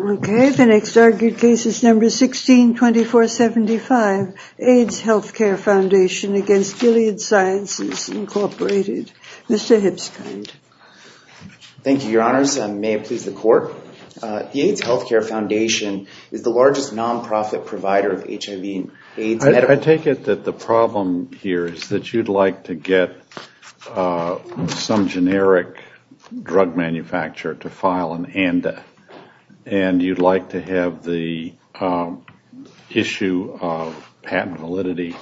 Okay, the next argued case is number 16-2475, AIDS Healthcare Foundation against Gilead Sciences Incorporated. Mr. Hipskind. Thank you, your honors. May it please the court. The AIDS Healthcare Foundation is the largest non-profit provider of HIV and AIDS medical drugs. I take it that the problem here is that you'd like to get some generic drug manufacturer to file an ANDA and you'd like to have the issue of patent validity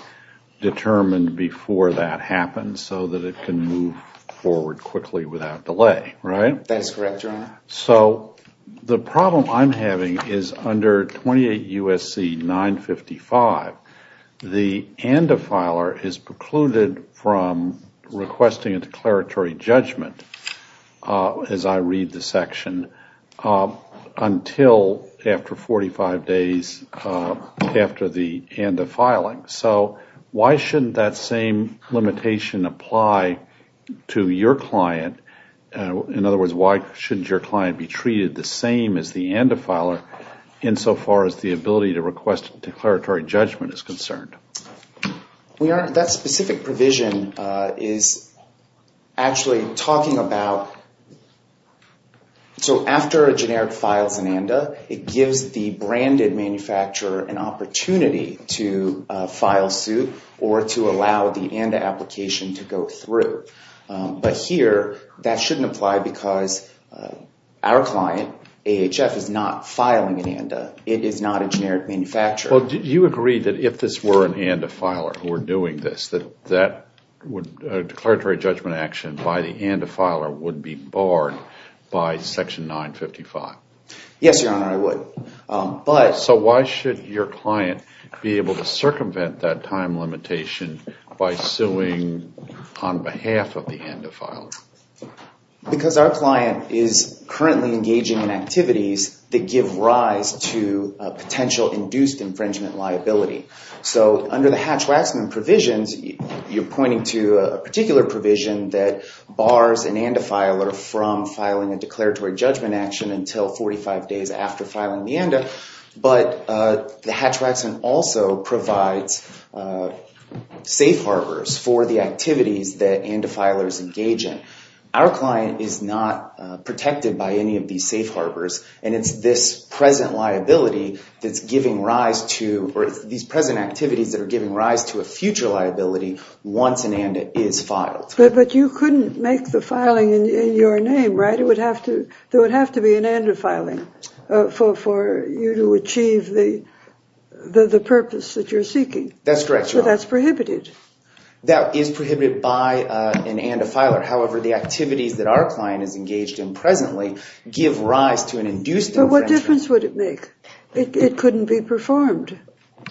determined before that happens so that it can move forward quickly without delay, right? That is correct, your honor. So the problem I'm having is under 28 U.S.C. 955, the ANDA filer is precluded from requesting a declaratory judgment, as I read the section, until after 45 days after the ANDA filing. So why shouldn't that same limitation apply to your client, in other words, why shouldn't your client be treated the same as the ANDA filer insofar as the ability to request declaratory judgment is concerned? That specific provision is actually talking about, so after a generic files an ANDA, it gives the branded manufacturer an opportunity to file suit or to allow the ANDA application to go through. But here, that shouldn't apply because our client, AHF, is not filing an ANDA. It is not a generic manufacturer. You agree that if this were an ANDA filer who were doing this, that a declaratory judgment action by the ANDA filer would be barred by section 955? Yes, your honor, I would. So why should your client be able to circumvent that time limitation by suing on behalf of the ANDA filer? Because our client is currently engaging in activities that give rise to a potential induced infringement liability. So under the Hatch-Waxman provisions, you're pointing to a particular provision that bars an ANDA filer from filing a declaratory judgment action until 45 days after filing the ANDA, but the Hatch-Waxman also provides safe harbors for the activities that ANDA filers engage in. Our client is not protected by any of these safe harbors, and it's this present liability that's giving rise to, or it's these present activities that are giving rise to a future liability once an ANDA is filed. But you couldn't make the filing in your name, right? There would have to be an ANDA filing for you to achieve the purpose that you're seeking. That's correct, your honor. So that's prohibited. That is prohibited by an ANDA filer. However, the activities that our client is engaged in presently give rise to an induced infringement. But what difference would it make? It couldn't be performed,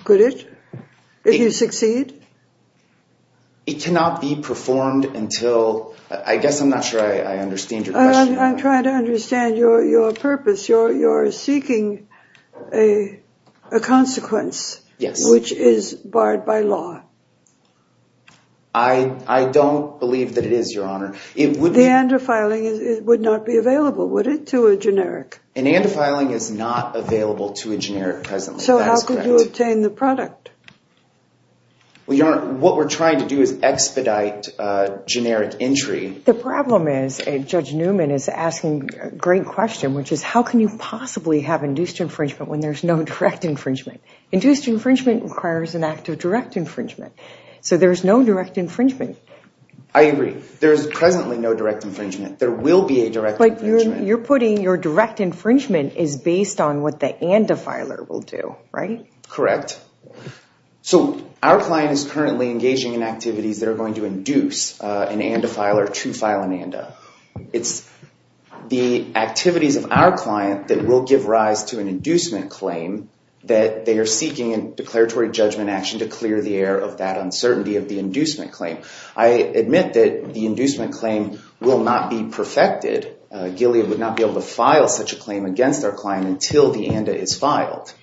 could it, if you succeed? It cannot be performed until, I guess I'm not sure I understand your question. I'm trying to understand your purpose. You're seeking a consequence which is barred by law. I don't believe that it is, your honor. The ANDA filing would not be available, would it, to a generic? An ANDA filing is not available to a generic presently, that is correct. How do you obtain the product? What we're trying to do is expedite generic entry. The problem is, Judge Newman is asking a great question, which is how can you possibly have induced infringement when there's no direct infringement? Induced infringement requires an act of direct infringement. So there's no direct infringement. I agree. There is presently no direct infringement. There will be a direct infringement. You're putting your direct infringement is based on what the ANDA filer will do, right? Correct. So our client is currently engaging in activities that are going to induce an ANDA filer to file an ANDA. It's the activities of our client that will give rise to an inducement claim that they are seeking a declaratory judgment action to clear the air of that uncertainty of the inducement claim. I admit that the inducement claim will not be perfected. Gilead would not be able to file such a claim against our client until the ANDA is filed.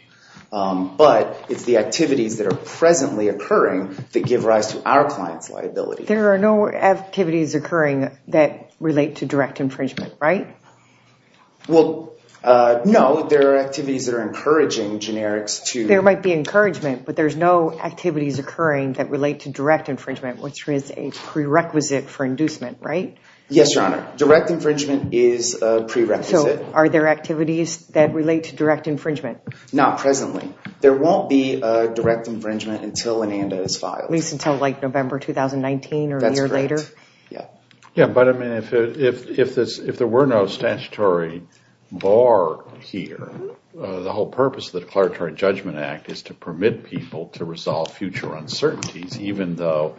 But it's the activities that are presently occurring that give rise to our client's liability. There are no activities occurring that relate to direct infringement, right? Well, no. There are activities that are encouraging generics to... There might be encouragement, but there's no activities occurring that relate to direct infringement, which is a prerequisite for inducement, right? Yes, Your Honor. Direct infringement is a prerequisite. Are there activities that relate to direct infringement? Not presently. There won't be a direct infringement until an ANDA is filed. At least until like November 2019 or a year later? That's correct. Yeah. Yeah, but I mean, if there were no statutory bar here, the whole purpose of the Declaratory Judgment Act is to permit people to resolve future uncertainties, even though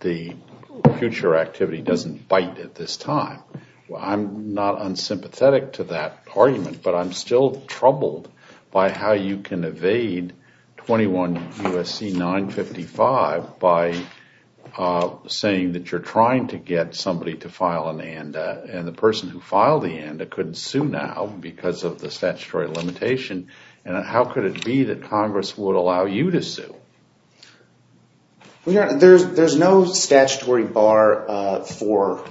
the future activity doesn't bite at this time. I'm not unsympathetic to that argument, but I'm still troubled by how you can evade 21 U.S.C. 955 by saying that you're trying to get somebody to file an ANDA, and the person who filed the ANDA couldn't sue now because of the statutory limitation, and how could it be that Congress would allow you to sue? There's no statutory bar for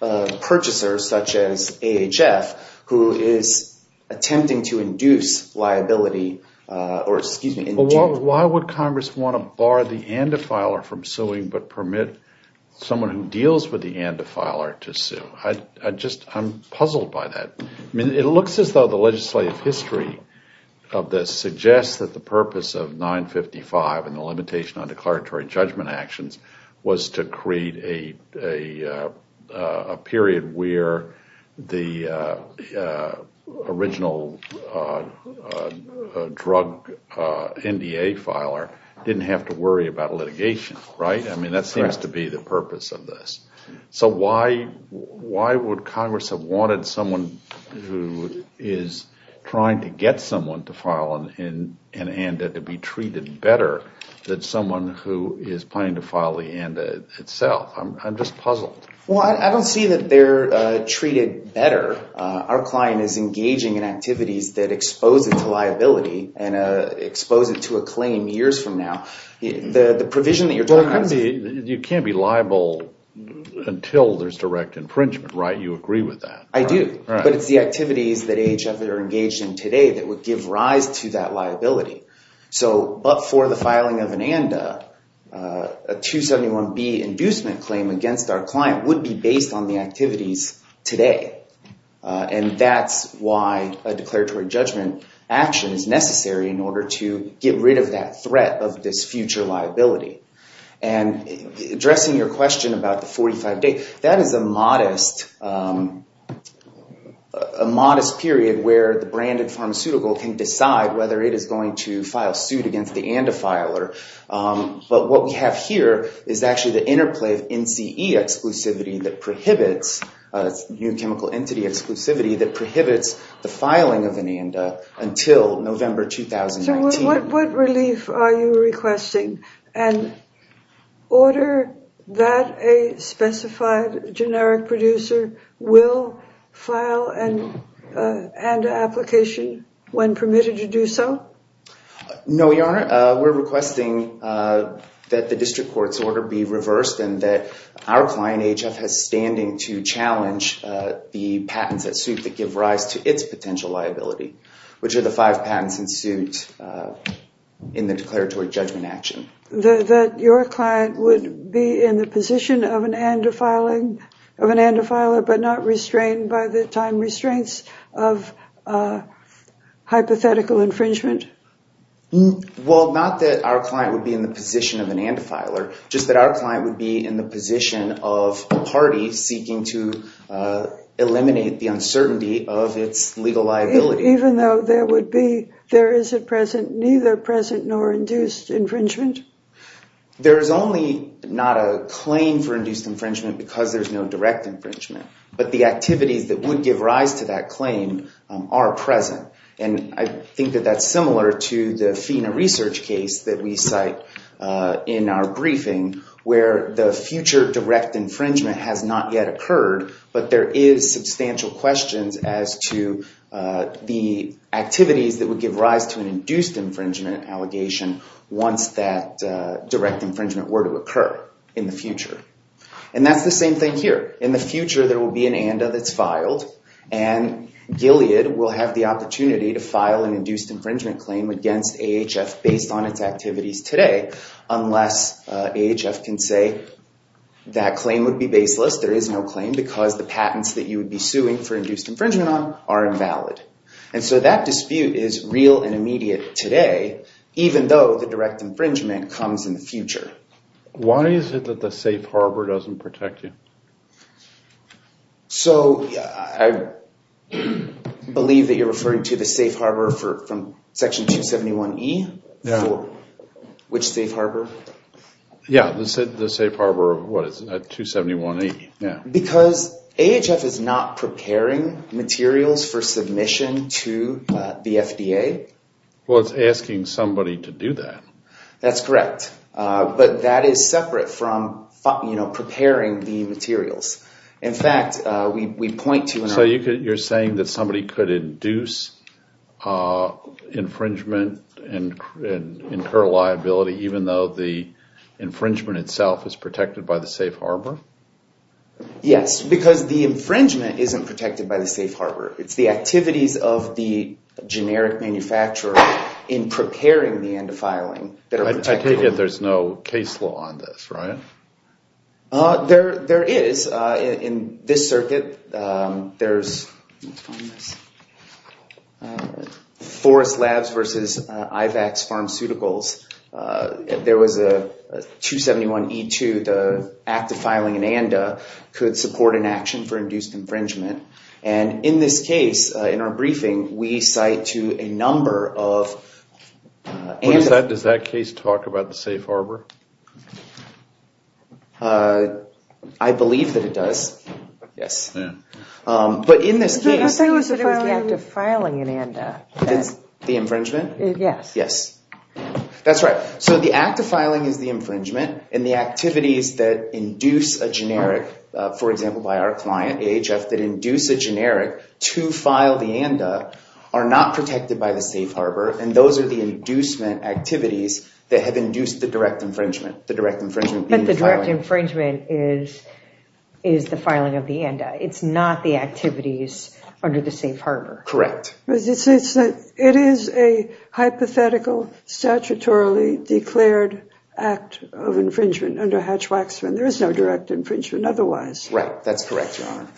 purchasers such as AHF, who is attempting to induce liability or excuse me. Why would Congress want to bar the ANDA filer from suing but permit someone who deals with the ANDA filer to sue? I'm puzzled by that. It looks as though the legislative history of this suggests that the purpose of 955 and the limitation on declaratory judgment actions was to create a period where the original drug NDA filer didn't have to worry about litigation, right? I mean, that seems to be the purpose of this. So why would Congress have wanted someone who is trying to get someone to file an ANDA to be treated better than someone who is planning to file the ANDA itself? I'm just puzzled. Well, I don't see that they're treated better. Our client is engaging in activities that expose it to liability and expose it to a claim years from now. The provision that you're talking about is... You can't be liable until there's direct infringement, right? You agree with that. I do. But it's the activities that AHF are engaged in today that would give rise to that liability. So but for the filing of an ANDA, a 271B inducement claim against our client would be based on the activities today. And that's why a declaratory judgment action is necessary in order to get rid of that threat of this future liability. And addressing your question about the 45 days, that is a modest period where the branded pharmaceutical can decide whether it is going to file suit against the ANDA filer. But what we have here is actually the interplay of NCE exclusivity that prohibits, new chemical entity exclusivity, that prohibits the filing of an ANDA until November 2019. So what relief are you requesting? An order that a specified generic producer will file an ANDA application when permitted to do so? No, Your Honor. We're requesting that the district court's order be reversed and that our client, AHF, has standing to challenge the patents that suit that give rise to its potential liability, which are the five patents in suit in the declaratory judgment action. That your client would be in the position of an ANDA filing, of an ANDA filer, but not restrained by the time restraints of hypothetical infringement? Well, not that our client would be in the position of an ANDA filer, just that our client would be in the position of a party seeking to eliminate the uncertainty of its legal liability. Even though there would be, there is a present, neither present nor induced infringement? There is only not a claim for induced infringement because there's no direct infringement, but the activities that would give rise to that claim are present. And I think that that's similar to the FINA research case that we cite in our briefing where the future direct infringement has not yet occurred, but there is substantial questions as to the activities that would give rise to an induced infringement allegation once that direct infringement were to occur in the future. And that's the same thing here. In the future, there will be an ANDA that's filed and Gilead will have the opportunity to file an induced infringement claim against AHF based on its activities today, unless AHF can say that claim would be baseless. There is no claim because the patents that you would be suing for induced infringement on are invalid. And so that dispute is real and immediate today, even though the direct infringement comes in the future. Why is it that the safe harbor doesn't protect you? So I believe that you're referring to the safe harbor from section 271E? Yeah. Which safe harbor? Yeah, the safe harbor of what is it, 271E, yeah. Because AHF is not preparing materials for submission to the FDA. Well, it's asking somebody to do that. That's correct. But that is separate from preparing the materials. In fact, we point to an... So you're saying that somebody could induce infringement and incur liability even though the infringement itself is protected by the safe harbor? Yes, because the infringement isn't protected by the safe harbor. It's the activities of the generic manufacturer in preparing the end of filing that are protected. I take it there's no case law on this, right? There is. In this circuit, there's... Let me find this. Forest Labs versus IVAC's Pharmaceuticals, there was a 271E2, the act of filing an ANDA could support an action for induced infringement. And in this case, in our briefing, we cite to a number of... Does that case talk about the safe harbor? I believe that it does, yes. But in this case... I thought you said it was the act of filing an ANDA. The infringement? Yes. Yes. That's right. So the act of filing is the infringement, and the activities that induce a generic, for example, by our client, AHF, that induce a generic to file the ANDA are not protected by the safe harbor, and those are the inducement activities that have induced the direct infringement. The direct infringement... It's not the activities under the safe harbor. Correct. It is a hypothetical, statutorily declared act of infringement under Hatch-Waxman. There is no direct infringement otherwise. Right. That's correct, Your Honor.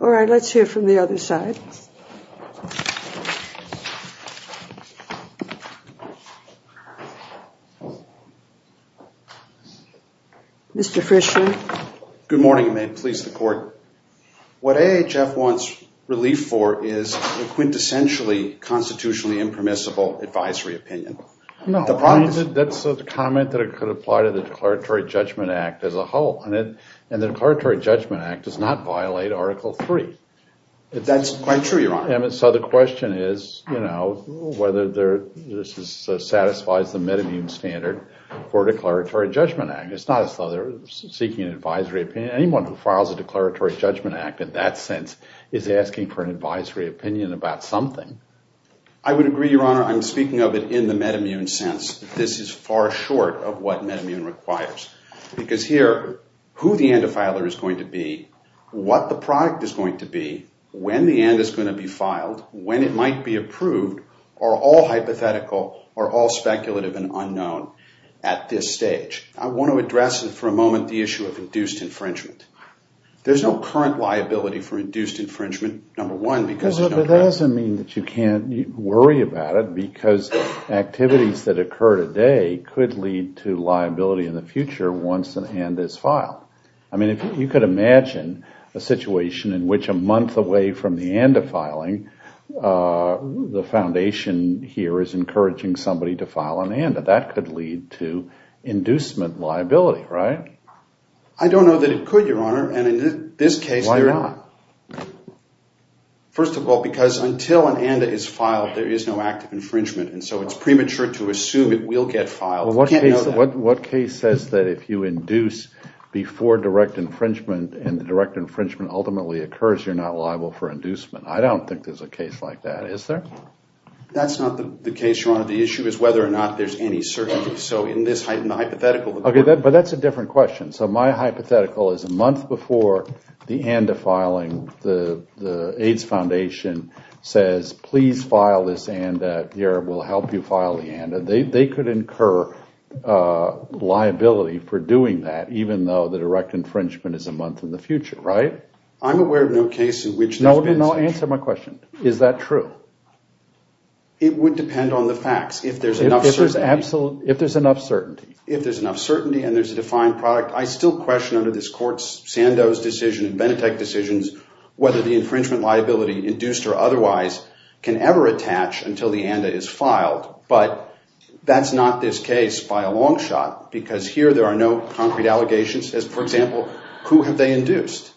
All right. Let's hear from the other side. Mr. Frischman. Good morning, ma'am. I'm here to formally please the court. What AHF wants relief for is a quintessentially constitutionally impermissible advisory opinion. No. That's a comment that could apply to the Declaratory Judgment Act as a whole, and the Declaratory Judgment Act does not violate Article III. That's quite true, Your Honor. And so the question is, you know, whether this satisfies the MedImmune standard for Declaratory Judgment Act. It's not as though they're seeking an advisory opinion. Anyone who files a Declaratory Judgment Act in that sense is asking for an advisory opinion about something. I would agree, Your Honor. I'm speaking of it in the MedImmune sense. This is far short of what MedImmune requires, because here, who the end-filer is going to be, what the product is going to be, when the end is going to be filed, when it might be approved are all hypothetical, are all speculative and unknown at this stage. I want to address, for a moment, the issue of induced infringement. There's no current liability for induced infringement, number one, because there's no precedent. But that doesn't mean that you can't worry about it, because activities that occur today could lead to liability in the future once an end is filed. I mean, if you could imagine a situation in which a month away from the end of filing, the foundation here is encouraging somebody to file an end. That could lead to inducement liability, right? I don't know that it could, Your Honor. And in this case, why not? First of all, because until an end is filed, there is no act of infringement. And so it's premature to assume it will get filed. What case says that if you induce before direct infringement, and the direct infringement ultimately occurs, you're not liable for inducement? I don't think there's a case like that, is there? That's not the case, Your Honor. The issue is whether or not there's any certainty. So in this hypothetical... Okay, but that's a different question. So my hypothetical is a month before the end of filing, the AIDS Foundation says, please file this end, that the Arab will help you file the end. They could incur liability for doing that, even though the direct infringement is a month in the future, right? I'm aware of no case in which there's been such. No, no, no. Answer my question. Is that true? It would depend on the facts, if there's enough certainty. If there's enough certainty. If there's enough certainty, and there's a defined product. I still question under this court's Sandoz decision and Benetech decisions, whether the infringement liability, induced or otherwise, can ever attach until the ANDA is filed. But that's not this case by a long shot, because here there are no concrete allegations. For example, who have they induced?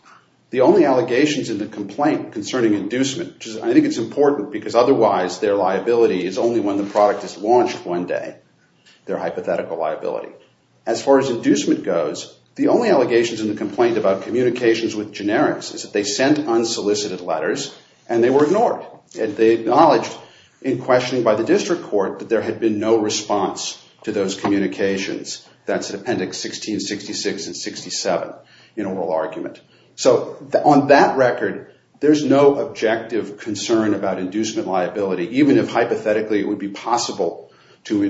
The only allegations in the complaint concerning inducement, which is, I think it's important because otherwise their liability is only when the product is launched one day, their hypothetical liability. As far as inducement goes, the only allegations in the complaint about communications with generics is that they sent unsolicited letters and they were ignored. They acknowledged in questioning by the district court that there had been no response to those So on that record, there's no objective concern about inducement liability, even if hypothetically it would be possible to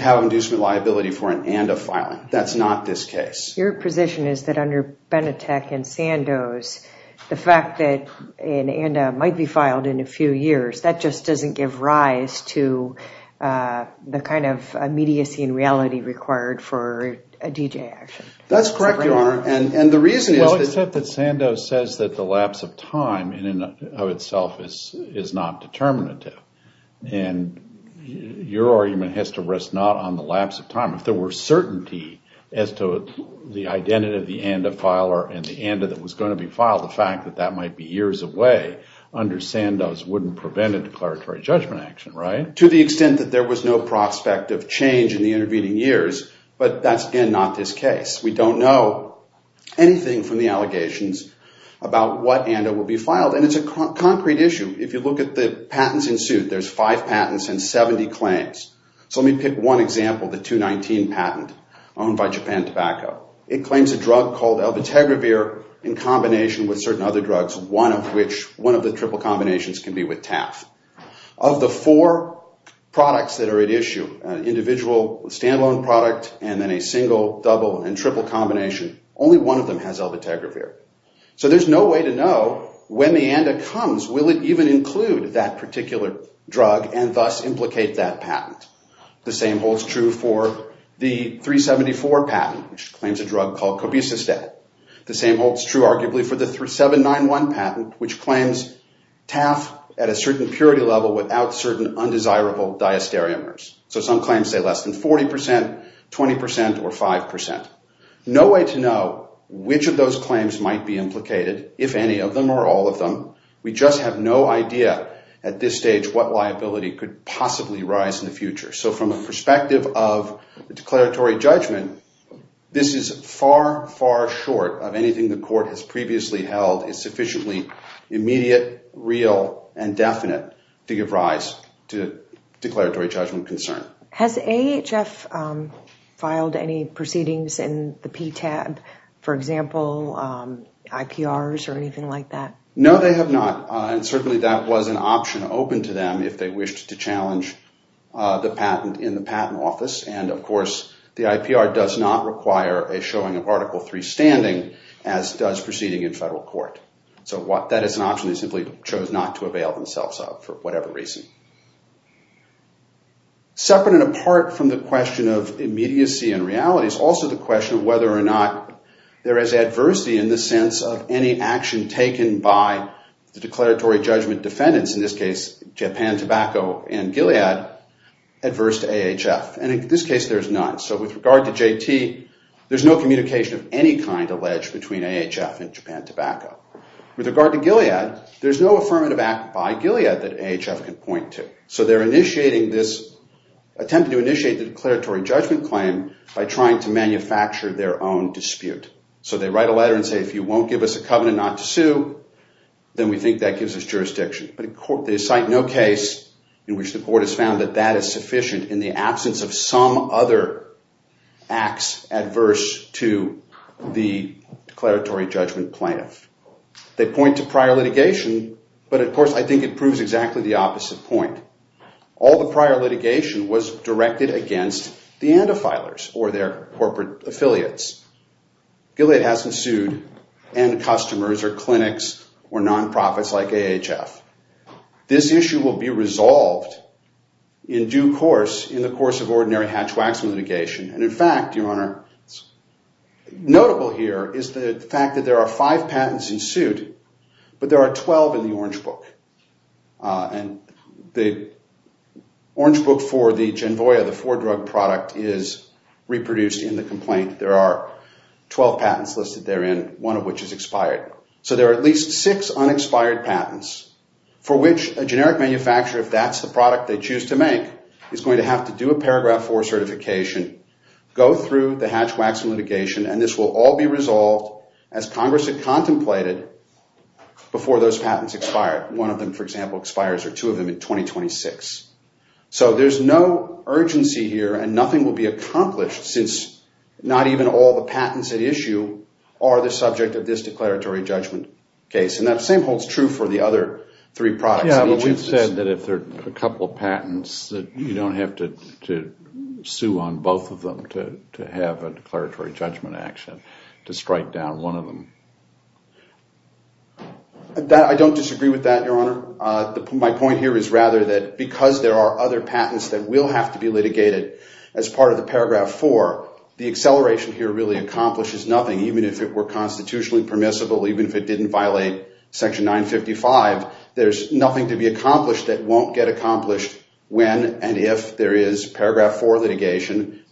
have inducement liability for an ANDA filing. That's not this case. Your position is that under Benetech and Sandoz, the fact that an ANDA might be filed in a few years, that just doesn't give rise to the kind of immediacy and reality required That's correct, Your Honor. The reason is that Sandoz says that the lapse of time in and of itself is not determinative. Your argument has to rest not on the lapse of time. If there were certainty as to the identity of the ANDA filer and the ANDA that was going to be filed, the fact that that might be years away under Sandoz wouldn't prevent a declaratory judgment action, right? To the extent that there was no prospect of change in the intervening years, but that's again not this case. We don't know anything from the allegations about what ANDA will be filed, and it's a concrete issue. If you look at the patents in suit, there's five patents and 70 claims. So let me pick one example, the 219 patent owned by Japan Tobacco. It claims a drug called Albutegravir in combination with certain other drugs, one of which, one of the triple combinations can be with TAF. Of the four products that are at issue, individual, standalone product, and then a single, double, and triple combination, only one of them has Albutegravir. So there's no way to know when the ANDA comes, will it even include that particular drug and thus implicate that patent. The same holds true for the 374 patent, which claims a drug called Cobicistat. The same holds true arguably for the 791 patent, which claims TAF at a certain purity level without certain undesirable diastereomers. So some claims say less than 40%, 20%, or 5%. No way to know which of those claims might be implicated, if any of them or all of them. We just have no idea at this stage what liability could possibly rise in the future. So from the perspective of the declaratory judgment, this is far, far short of anything the court has previously held is sufficiently immediate, real, and definite to give rise to declaratory judgment concern. Has AHF filed any proceedings in the PTAB, for example, IPRs or anything like that? No, they have not. And certainly that was an option open to them if they wished to challenge the patent in the patent office. And of course, the IPR does not require a showing of Article III standing, as does proceeding in federal court. So that is an option they simply chose not to avail themselves of for whatever reason. Separate and apart from the question of immediacy and reality is also the question of whether or not there is adversity in the sense of any action taken by the declaratory judgment defendants, in this case, Japan Tobacco and Gilead, adverse to AHF. And in this case, there's none. So with regard to JT, there's no communication of any kind alleged between AHF and Japan Tobacco. With regard to Gilead, there's no affirmative act by Gilead that AHF can point to. So they're initiating this attempt to initiate the declaratory judgment claim by trying to manufacture their own dispute. So they write a letter and say, if you won't give us a covenant not to sue, then we think that gives us jurisdiction. But in court, they cite no case in which the court has found that that is sufficient in the absence of some other acts adverse to the declaratory judgment plaintiff. They point to prior litigation, but of course, I think it proves exactly the opposite point. All the prior litigation was directed against the antifilers or their corporate affiliates. Gilead hasn't sued end customers or clinics or non-profits like AHF. This issue will be resolved in due course in the course of ordinary hatch-wax litigation. And in fact, Your Honor, notable here is the fact that there are five patents in suit, but there are 12 in the Orange Book. And the Orange Book for the Genvoya, the four-drug product, is reproduced in the complaint. There are 12 patents listed therein, one of which is expired. So there are at least six unexpired patents for which a generic manufacturer, if that's the product they choose to make, is going to have to do a Paragraph 4 certification, go through the hatch-wax litigation, and this will all be resolved as Congress had contemplated before those patents expired. One of them, for example, expires, or two of them in 2026. So there's no urgency here, and nothing will be accomplished since not even all the patents at issue are the subject of this declaratory judgment case. And that same holds true for the other three products. Yeah, but we've said that if there are a couple of patents, that you don't have to sue on both of them to have a declaratory judgment action to strike down one of them. I don't disagree with that, Your Honor. My point here is rather that because there are other patents that will have to be litigated as part of the Paragraph 4, the acceleration here really accomplishes nothing. Even if it were constitutionally permissible, even if it didn't violate Section 955, there's nothing to be accomplished that won't get accomplished when and if there is Paragraph 4 litigation.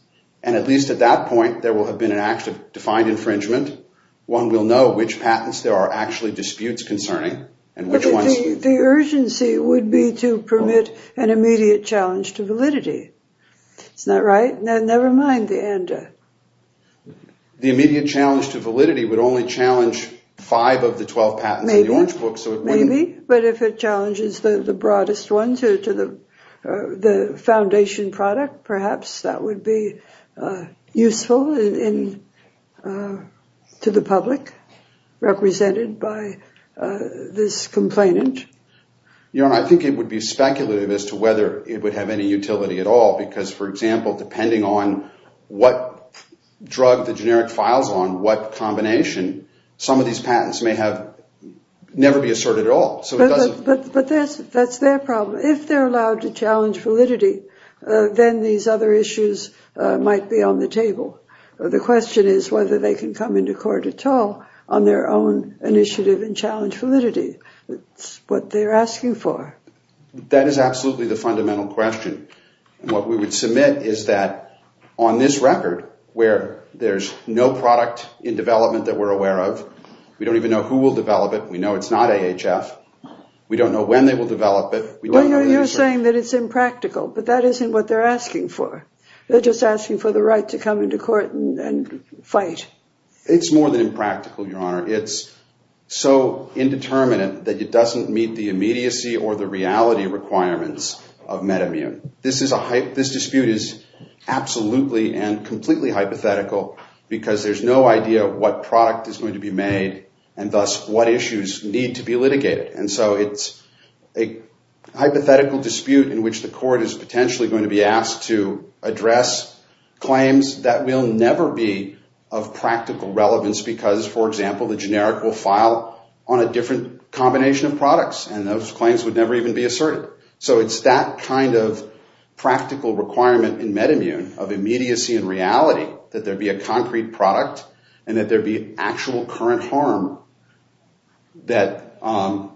And at least at that point, there will have been an act of defined infringement. One will know which patents there are actually disputes concerning, and which ones... The urgency would be to permit an immediate challenge to validity. It's not right? Never mind the ANDA. The immediate challenge to validity would only challenge five of the 12 patents in the Orange Book. Maybe. But if it challenges the broadest ones to the foundation product, perhaps that would be useful to the public, represented by this complainant. Your Honor, I think it would be speculative as to whether it would have any utility at all because, for example, depending on what drug the generic files on, what combination, some of these patents may never be asserted at all. But that's their problem. If they're allowed to challenge validity, then these other issues might be on the table. The question is whether they can come into court at all on their own initiative and challenge validity. That's what they're asking for. That is absolutely the fundamental question. What we would submit is that on this record, where there's no product in development that we're aware of. We don't even know who will develop it. We know it's not AHF. We don't know when they will develop it. You're saying that it's impractical, but that isn't what they're asking for. They're just asking for the right to come into court and fight. It's more than impractical, Your Honor. It's so indeterminate that it doesn't meet the immediacy or the reality requirements of MedImmune. This dispute is absolutely and completely hypothetical because there's no idea what product is going to be made and thus what issues need to be litigated. It's a hypothetical dispute in which the court is potentially going to be asked to address claims that will never be of practical relevance because, for example, the generic will file on a different combination of products and those claims would never even be asserted. It's that kind of practical requirement in MedImmune of immediacy and reality that there would be actual current harm that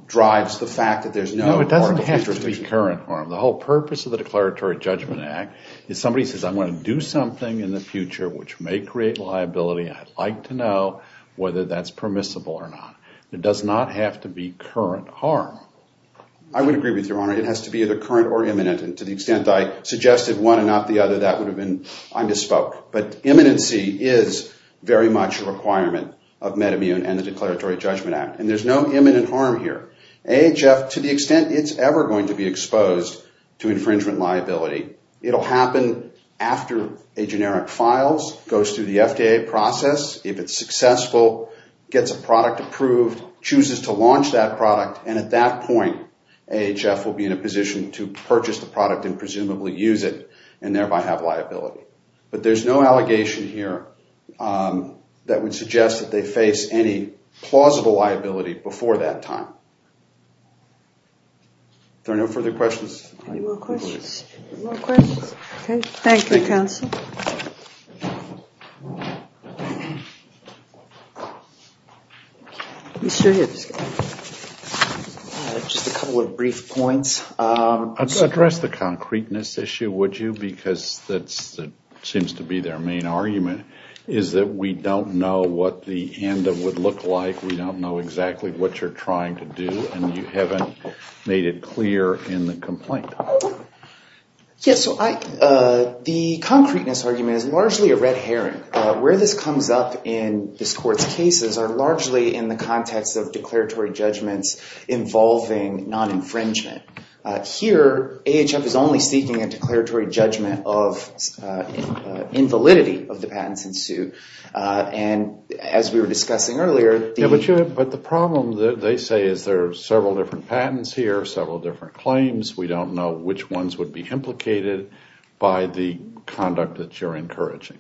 drives the fact that there's no court of interdiction. No, it doesn't have to be current harm. The whole purpose of the Declaratory Judgment Act is somebody says, I'm going to do something in the future which may create liability and I'd like to know whether that's permissible or not. It does not have to be current harm. I would agree with you, Your Honor. It has to be either current or imminent and to the extent I suggested one and not the requirement of MedImmune and the Declaratory Judgment Act and there's no imminent harm here. AHF, to the extent it's ever going to be exposed to infringement liability, it'll happen after a generic files, goes through the FDA process, if it's successful, gets a product approved, chooses to launch that product and at that point, AHF will be in a position to purchase the product and presumably use it and thereby have liability. But there's no allegation here that would suggest that they face any plausible liability before that time. Are there no further questions? Any more questions? Any more questions? Okay. Thank you, counsel. Mr. Hibbs. Just a couple of brief points. Address the concreteness issue, would you, because that seems to be their main argument, is that we don't know what the ANDA would look like, we don't know exactly what you're trying to do and you haven't made it clear in the complaint. Yes. So, the concreteness argument is largely a red herring. Where this comes up in this court's cases are largely in the context of declaratory judgments involving non-infringement. Here, AHF is only seeking a declaratory judgment of invalidity of the patents in suit. And as we were discussing earlier- Yeah, but the problem that they say is there are several different patents here, several different claims. We don't know which ones would be implicated by the conduct that you're encouraging.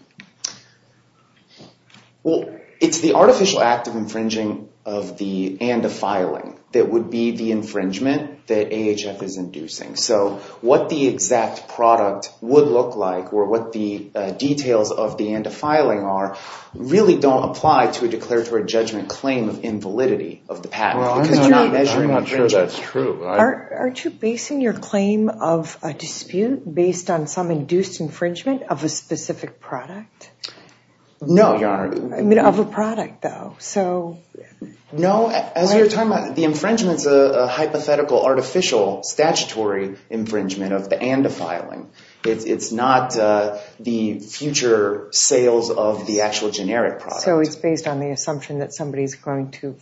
Well, it's the artificial act of infringing of the ANDA filing that would be the infringement that AHF is inducing. So what the exact product would look like or what the details of the ANDA filing are really don't apply to a declaratory judgment claim of invalidity of the patent. Because we're not measuring infringement. Well, I'm not sure that's true. Aren't you basing your claim of a dispute based on some induced infringement of a specific product? No, Your Honor. I mean, of a product, though. So- No, as you're talking about, the infringement's a hypothetical, artificial, statutory infringement of the ANDA filing. It's not the future sales of the actual generic product. So it's based on the assumption that somebody's going to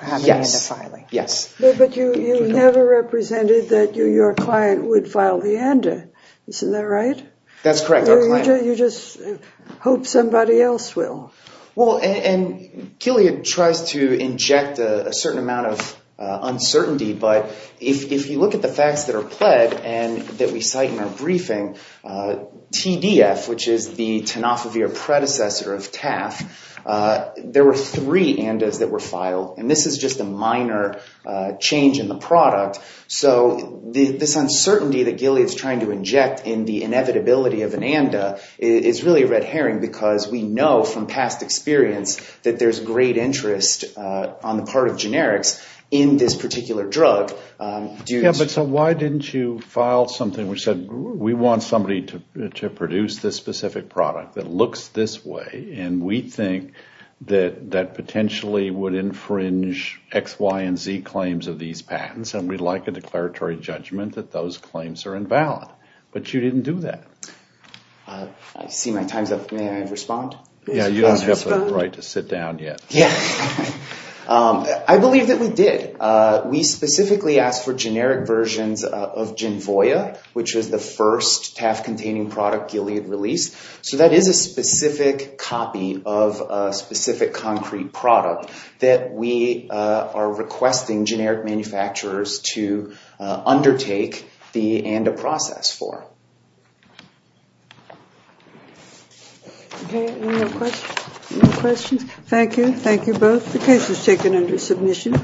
have an ANDA filing. Yes. Yes. But you never represented that your client would file the ANDA, isn't that right? That's correct. You just hope somebody else will. Well, and Gilead tries to inject a certain amount of uncertainty. But if you look at the facts that are pled and that we cite in our briefing, TDF, which is the Tenofovir predecessor of TAF, there were three ANDAs that were filed. And this is just a minor change in the product. So this uncertainty that Gilead's trying to inject in the inevitability of an ANDA is really red herring because we know from past experience that there's great interest on the part of generics in this particular drug due to- Yeah, but so why didn't you file something which said, we want somebody to produce this specific product that looks this way, and we think that that potentially would infringe X, Y, and Z claims of these patents, and we'd like a declaratory judgment that those claims are invalid. But you didn't do that. I see my time's up. May I respond? Yeah, you don't have the right to sit down yet. Yeah. I believe that we did. We specifically asked for generic versions of Genvoia, which was the first TAF-containing product Gilead released. So that is a specific copy of a specific concrete product that we are requesting generic manufacturers to undertake the ANDA process for. Okay. Any more questions? Thank you. Thank you both. The case is taken under submission.